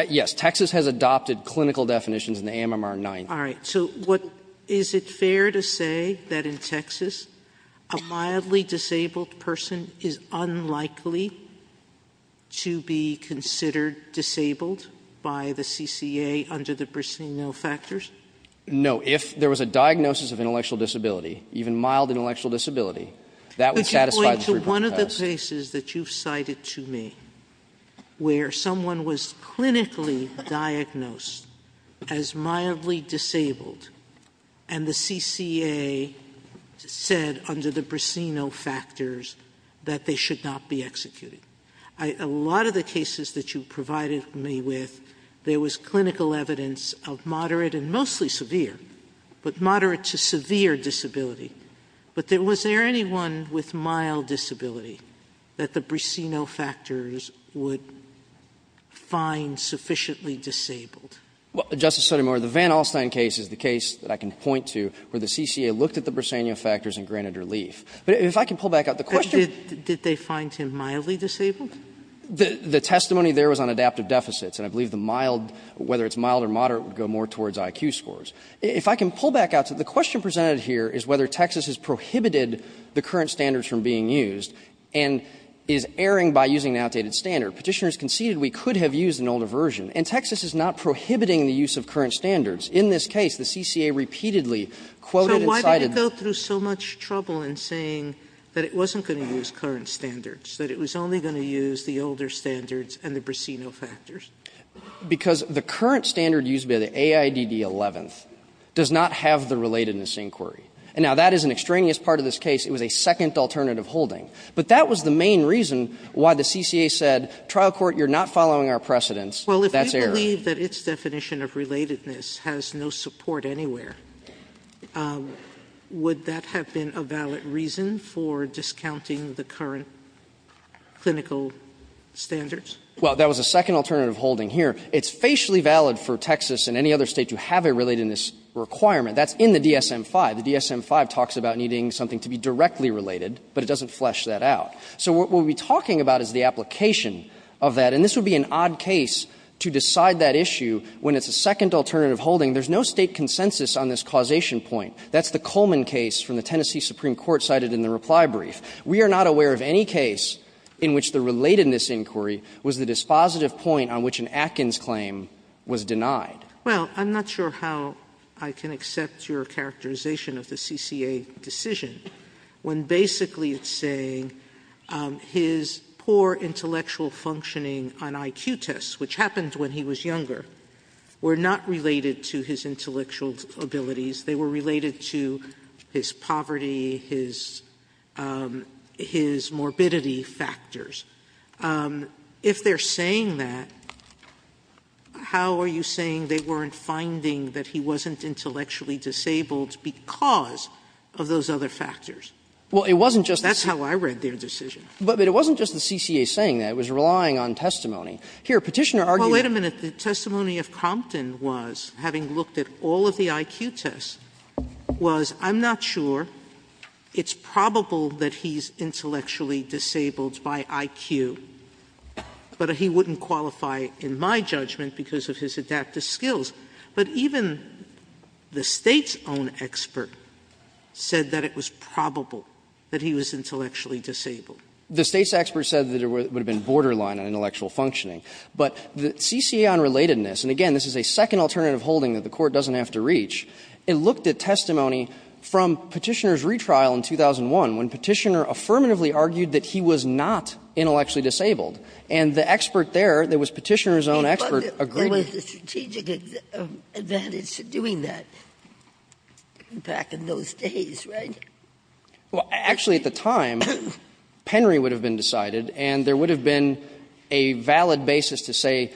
Yes. Texas has adopted clinical definitions in the AMR 9th. All right. So what, is it fair to say that in Texas, a mildly disabled person is unlikely to be considered disabled by the CCA under the Briseno factors? No. If there was a diagnosis of intellectual disability, even mild intellectual disability, that would satisfy the three-percent test. But you point to one of the cases that you've cited to me where someone was clinically diagnosed as mildly disabled and the CCA said under the Briseno factors that they should not be executed. A lot of the cases that you provided me with, there was clinical evidence of moderate and mostly severe, but moderate to severe disability. But was there anyone with mild disability that the Briseno factors would find sufficiently disabled? Justice Sotomayor, the Van Alstyne case is the case that I can point to where the CCA looked at the Briseno factors and granted relief. But if I can pull back out the question of the question. Did they find him mildly disabled? The testimony there was on adaptive deficits, and I believe the mild, whether it's mild or moderate, would go more towards IQ scores. If I can pull back out, the question presented here is whether Texas has prohibited the current standards from being used and is erring by using an outdated standard. Petitioners conceded we could have used an older version, and Texas is not prohibiting the use of current standards. In this case, the CCA repeatedly quoted and cited. Sotomayor, so why did it go through so much trouble in saying that it wasn't going to use current standards, that it was only going to use the older standards and the Briseno factors? Because the current standard used by the AIDD 11th does not have the relatedness inquiry. And now, that is an extraneous part of this case. It was a second alternative holding. But that was the main reason why the CCA said, trial court, you're not following our precedents. Sotomayor, if you believe that its definition of relatedness has no support anywhere, would that have been a valid reason for discounting the current clinical standards? Well, that was a second alternative holding here. It's facially valid for Texas and any other State to have a relatedness requirement. That's in the DSM-5. The DSM-5 talks about needing something to be directly related, but it doesn't really flesh that out. So what we'll be talking about is the application of that. And this would be an odd case to decide that issue when it's a second alternative holding. There's no State consensus on this causation point. That's the Coleman case from the Tennessee Supreme Court cited in the reply brief. We are not aware of any case in which the relatedness inquiry was the dispositive point on which an Atkins claim was denied. Well, I'm not sure how I can accept your characterization of the CCA decision when basically it's saying his poor intellectual functioning on IQ tests, which happened when he was younger, were not related to his intellectual abilities. They were related to his poverty, his morbidity factors. If they're saying that, how are you saying they weren't finding that he wasn't having those other factors? That's how I read their decision. But it wasn't just the CCA saying that. It was relying on testimony. Here, Petitioner argued that Well, wait a minute. The testimony of Compton was, having looked at all of the IQ tests, was I'm not sure. It's probable that he's intellectually disabled by IQ, but he wouldn't qualify in my judgment because of his adaptive skills. But even the State's own expert said that it was probable that he was intellectually disabled. The State's expert said that it would have been borderline on intellectual functioning. But the CCA on relatedness, and again, this is a second alternative holding that the Court doesn't have to reach, it looked at testimony from Petitioner's retrial in 2001 when Petitioner affirmatively argued that he was not intellectually disabled, and the expert there, that was Petitioner's own expert, agreed. Ginsburg. There was a strategic advantage to doing that back in those days, right? Well, actually, at the time, Penry would have been decided, and there would have been a valid basis to say,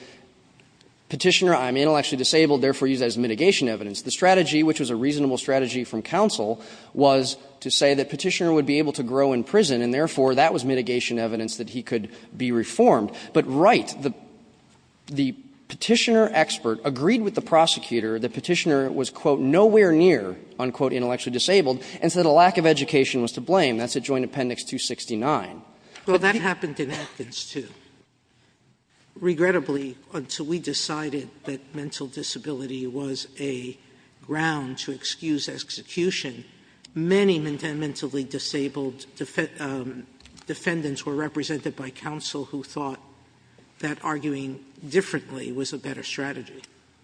Petitioner, I'm intellectually disabled, therefore use that as mitigation evidence. The strategy, which was a reasonable strategy from counsel, was to say that Petitioner would be able to grow in prison, and therefore that was mitigation evidence that he could be reformed. But Wright, the Petitioner expert, agreed with the prosecutor that Petitioner was, quote, nowhere near, unquote, intellectually disabled, and said a lack of education was to blame. That's at Joint Appendix 269. Sotomayor. Well, that happened in Atkins, too. Regrettably, until we decided that mental disability was a ground to excuse execution, many mentally disabled defendants were represented by counsel who thought that mental disability was a ground to excuse execution, and therefore that arguing differently was a better strategy.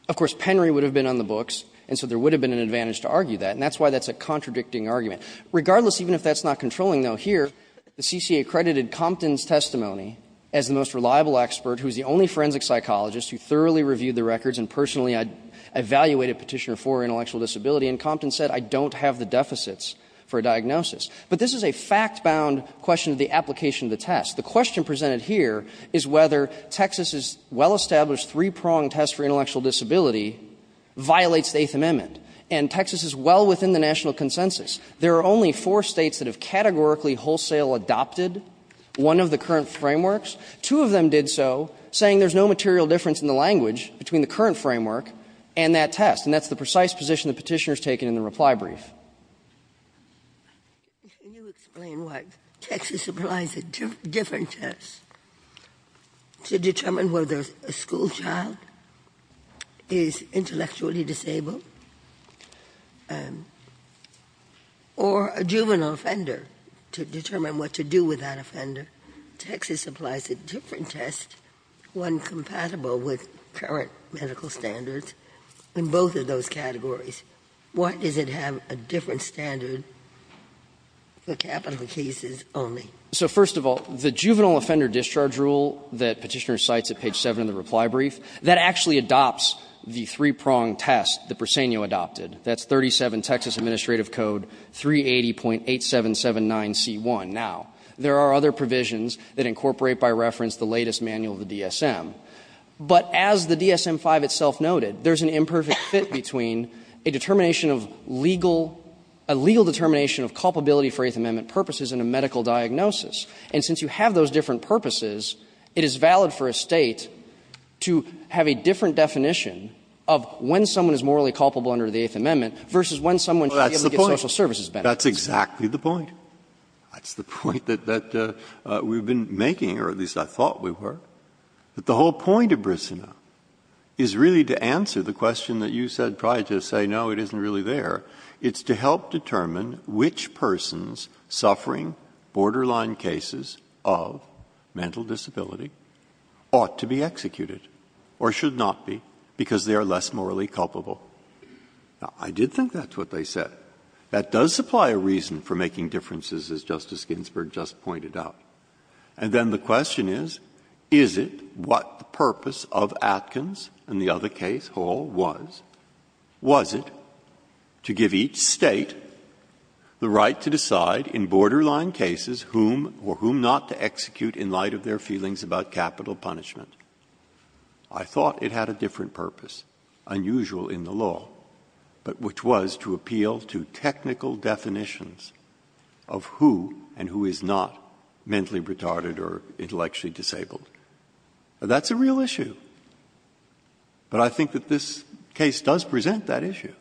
Of course, Penry would have been on the books, and so there would have been an advantage to argue that, and that's why that's a contradicting argument. Regardless, even if that's not controlling, though, here, the CCA credited Compton's testimony as the most reliable expert, who's the only forensic psychologist who thoroughly reviewed the records and personally evaluated Petitioner for intellectual disability, and Compton said, I don't have the deficits for a diagnosis. But this is a fact-bound question of the application of the test. The question presented here is whether Texas's well-established three-pronged test for intellectual disability violates the Eighth Amendment, and Texas is well within the national consensus. There are only four states that have categorically wholesale adopted one of the current frameworks. Two of them did so, saying there's no material difference in the language between the current framework and that test, and that's the precise position that Petitioner has taken in the reply brief. Ginsburg. Can you explain why Texas applies a different test to determine whether a school child is intellectually disabled or a juvenile offender, to determine what to do with that offender? Texas applies a different test, one compatible with current medical standards, in both of those categories. Why does it have a different standard for capital cases only? So, first of all, the juvenile offender discharge rule that Petitioner cites at page 7 of the reply brief, that actually adopts the three-pronged test that Briseno adopted. That's 37 Texas Administrative Code 380.8779C1. Now, there are other provisions that incorporate by reference the latest manual of the DSM. But as the DSM-5 itself noted, there's an imperfect fit between a determination of legal – a legal determination of culpability for Eighth Amendment purposes and a medical diagnosis. And since you have those different purposes, it is valid for a State to have a different definition of when someone is morally culpable under the Eighth Amendment versus when someone should be able to get social services benefits. Breyer. That's exactly the point. That's the point that we've been making, or at least I thought we were, that the whole point of Briseno is really to answer the question that you said prior to say, no, it isn't really there. It's to help determine which persons suffering borderline cases of mental disability ought to be executed or should not be because they are less morally culpable. Now, I did think that's what they said. That does supply a reason for making differences, as Justice Ginsburg just pointed out. And then the question is, is it what the purpose of Atkins and the other case, Hall, was? Was it to give each State the right to decide in borderline cases whom or whom not to execute in light of their feelings about capital punishment? I thought it had a different purpose, unusual in the law, but which was to appeal to technical definitions of who and who is not mentally retarded or intellectually disabled. That's a real issue. But I think that this case does present that issue.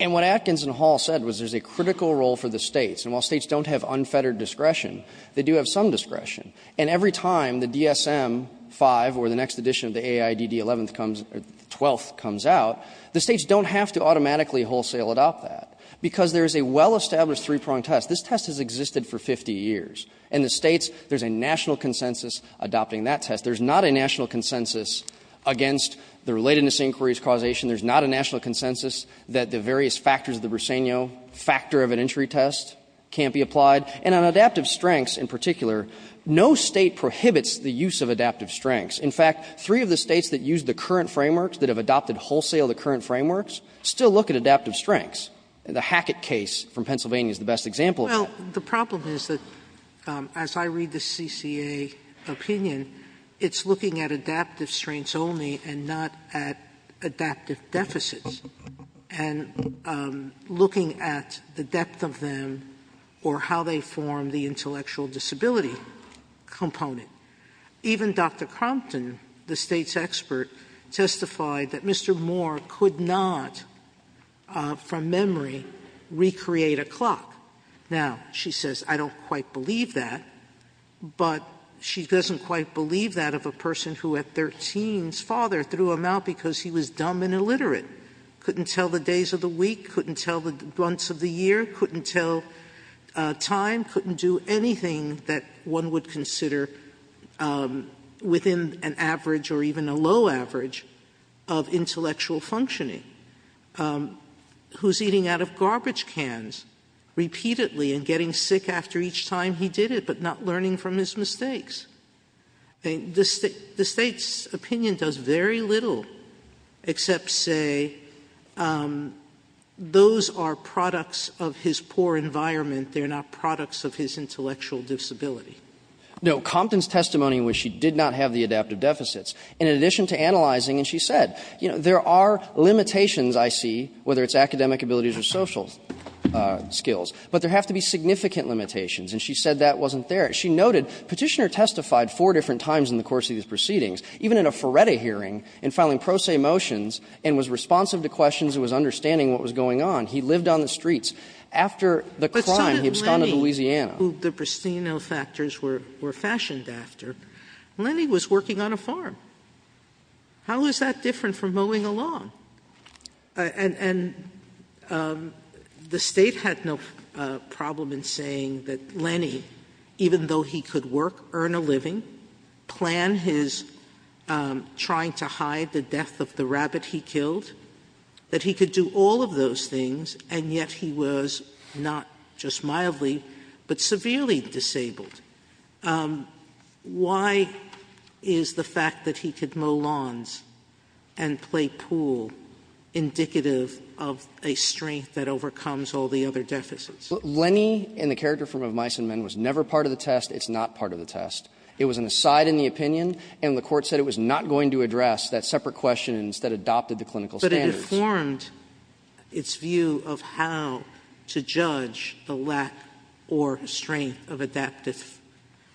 And what Atkins and Hall said was there's a critical role for the States. And while States don't have unfettered discretion, they do have some discretion. And every time the DSM-5 or the next edition of the AIDD-11th comes or the 12th comes out, the States don't have to automatically wholesale adopt that, because there is a well-established three-pronged test. This test has existed for 50 years. And the States, there's a national consensus adopting that test. There's not a national consensus against the relatedness inquiries causation. There's not a national consensus that the various factors of the Brisegno factor of an injury test can't be applied. And on adaptive strengths in particular, no State prohibits the use of adaptive strengths. In fact, three of the States that use the current frameworks, that have adopted wholesale the current frameworks, still look at adaptive strengths. The Hackett case from Pennsylvania is the best example of that. Sotomayor, Well, the problem is that as I read the CCA opinion, it's looking at adaptive strengths only and not at adaptive deficits, and looking at the depth of them or how they form the intellectual disability component. Even Dr. Compton, the State's expert, testified that Mr. Moore could not, from memory, recreate a clock. Now, she says, I don't quite believe that. But she doesn't quite believe that of a person who at 13's father threw him out because he was dumb and illiterate. Couldn't tell the days of the week. Couldn't tell the months of the year. Couldn't tell time. Couldn't do anything that one would consider within an average or even a low average of intellectual functioning. Who's eating out of garbage cans repeatedly and getting sick after each time he did it, but not learning from his mistakes. The State's opinion does very little except say, those are products of his poor environment. They're not products of his intellectual disability. No. Compton's testimony was she did not have the adaptive deficits. In addition to analyzing, and she said, you know, there are limitations, I see, whether it's academic abilities or social skills, but there have to be significant limitations. And she said that wasn't there. She noted Petitioner testified four different times in the course of these proceedings, even in a Ferretti hearing, in filing pro se motions, and was responsive to questions and was understanding what was going on. He lived on the streets. After the crime, he absconded to Louisiana. Sotomayor, who the pristino factors were fashioned after, Lenny was working on a farm. How is that different from mowing a lawn? And the State had no problem in saying that Lenny, even though he could work, earn a living, plan his trying to hide the death of the rabbit he killed, that he could do all of those things, and yet he was not just mildly, but severely disabled. Why is the fact that he could mow lawns and play pool indicative of a strength that overcomes all the other deficits? Lenny, in the character form of Meissenman, was never part of the test. It's not part of the test. It was an aside in the opinion, and the Court said it was not going to address that separate question and instead adopted the clinical standards. Sotomayor, but it informed its view of how to judge the lack or strength of adaptive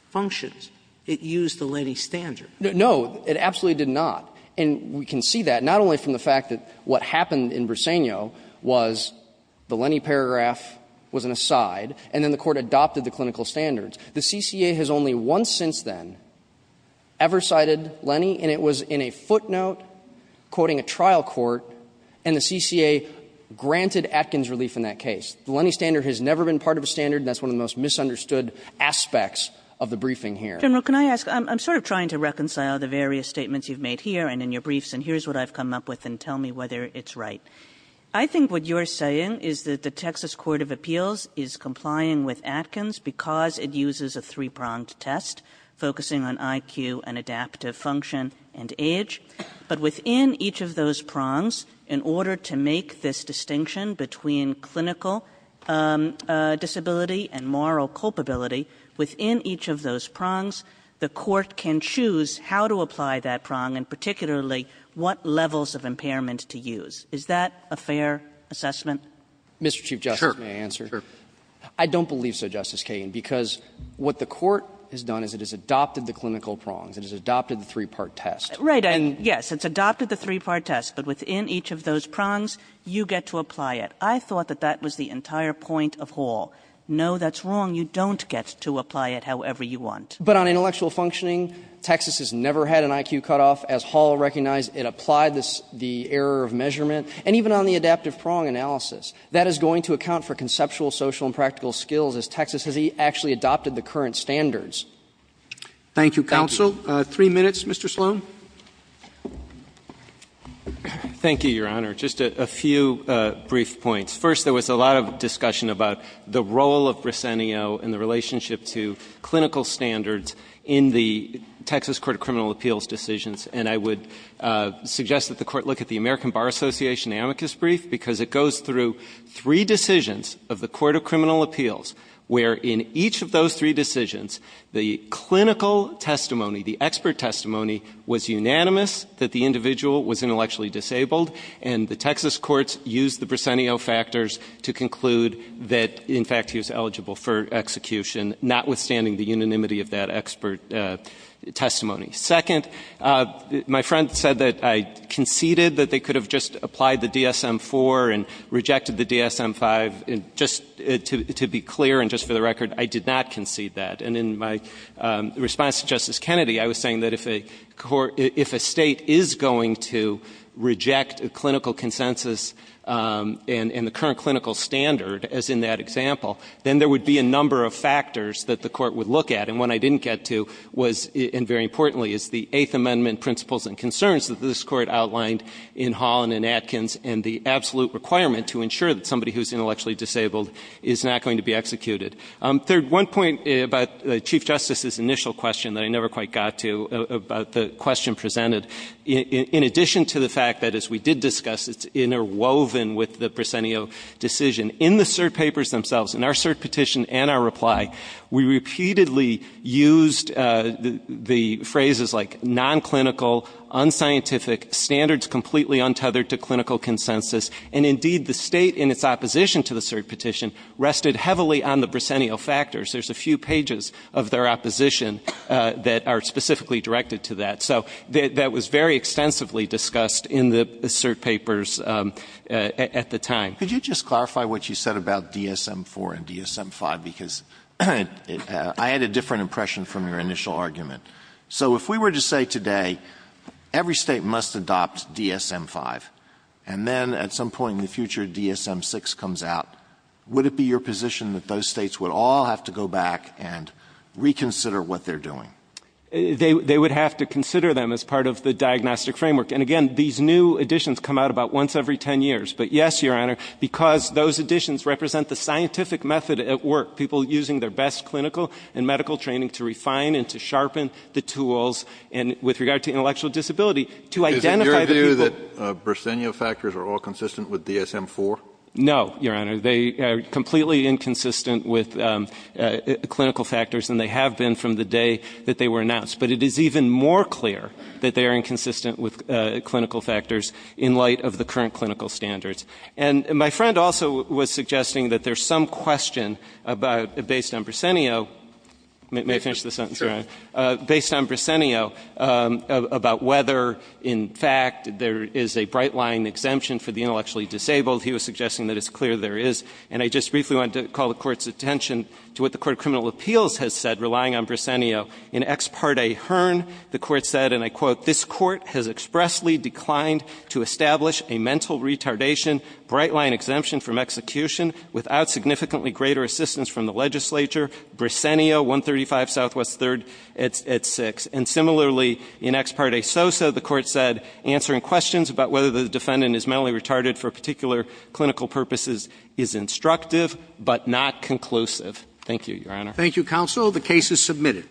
functions. It used the Lenny standard. No. It absolutely did not. And we can see that, not only from the fact that what happened in Briseño was the Lenny paragraph was an aside, and then the Court adopted the clinical standards. The CCA has only once since then ever cited Lenny, and it was in a footnote quoting a trial court, and the CCA granted Atkins relief in that case. The Lenny standard has never been part of a standard, and that's one of the most misunderstood aspects of the briefing here. Kagan, I'm sort of trying to reconcile the various statements you've made here and in your briefs, and here's what I've come up with, and tell me whether it's right. I think what you're saying is that the Texas Court of Appeals is complying with Atkins because it uses a three-pronged test, focusing on IQ and adaptive function and age, but within each of those prongs, in order to make this distinction between clinical disability and moral culpability, within each of those prongs, the court can choose how to apply that prong and particularly what levels of impairment to use. Is that a fair assessment? Mr. Chief Justice, may I answer? I don't believe so, Justice Kagan, because what the court has done is it has adopted the clinical prongs, it has adopted the three-part test. Kagan. And yes, it's adopted the three-part test, but within each of those prongs, you get to apply it. I thought that that was the entire point of Hall. No, that's wrong. You don't get to apply it however you want. But on intellectual functioning, Texas has never had an IQ cutoff. As Hall recognized, it applied the error of measurement. And even on the adaptive prong analysis, that is going to account for conceptual, social, and practical skills, as Texas has actually adopted the current standards. Thank you, counsel. Three minutes, Mr. Sloan. Thank you, Your Honor. Just a few brief points. First, there was a lot of discussion about the role of Briseno in the relationship to clinical standards in the Texas Court of Criminal Appeals decisions. And I would suggest that the Court look at the American Bar Association amicus brief, because it goes through three decisions of the Court of Criminal Appeals, where in each of those three decisions, the clinical testimony, the expert testimony, was unanimous that the individual was intellectually disabled. And the Texas courts used the Briseno factors to conclude that, in fact, he was eligible for execution, notwithstanding the unanimity of that expert testimony. Second, my friend said that I conceded that they could have just applied the DSM-IV and rejected the DSM-V. Just to be clear, and just for the record, I did not concede that. And in my response to Justice Kennedy, I was saying that if a state is going to reject a clinical consensus and the current clinical standard, as in that example, then there would be a number of factors that the court would look at. And one I didn't get to was, and very importantly, is the Eighth Amendment principles and concerns that this court outlined in Hall and in Atkins. And the absolute requirement to ensure that somebody who's intellectually disabled is not going to be executed. Third, one point about Chief Justice's initial question that I never quite got to about the question presented. In addition to the fact that, as we did discuss, it's interwoven with the Briseno decision. In the cert papers themselves, in our cert petition and our reply, we repeatedly used the phrases like non-clinical, unscientific, standards completely untethered to clinical consensus. And indeed, the state in its opposition to the cert petition rested heavily on the Briseno factors. There's a few pages of their opposition that are specifically directed to that. So that was very extensively discussed in the cert papers at the time. Could you just clarify what you said about DSM-IV and DSM-V? Because I had a different impression from your initial argument. So if we were to say today, every state must adopt DSM-V. And then at some point in the future, DSM-VI comes out. Would it be your position that those states would all have to go back and reconsider what they're doing? They would have to consider them as part of the diagnostic framework. And again, these new additions come out about once every ten years. But yes, Your Honor, because those additions represent the scientific method at work. People using their best clinical and medical training to refine and to sharpen the tools. And with regard to intellectual disability, to identify the people- Is it your view that Briseno factors are all consistent with DSM-IV? No, Your Honor. They are completely inconsistent with clinical factors. And they have been from the day that they were announced. But it is even more clear that they are inconsistent with clinical factors in light of the current clinical standards. And my friend also was suggesting that there's some question about, based on Briseno. May I finish this sentence, Your Honor? Based on Briseno, about whether, in fact, there is a bright line exemption for the intellectually disabled. He was suggesting that it's clear there is. And I just briefly wanted to call the court's attention to what the Court of Criminal Appeals has said, relying on Briseno. In ex parte Hearn, the court said, and I quote, this court has expressly declined to establish a mental retardation bright line exemption from execution without significantly greater assistance from the legislature. Briseno, 135 Southwest 3rd at 6. And similarly, in ex parte Sosa, the court said, answering questions about whether the defendant is mentally retarded for particular clinical purposes is instructive, but not conclusive. Thank you, Your Honor. Thank you, Counsel. The case is submitted.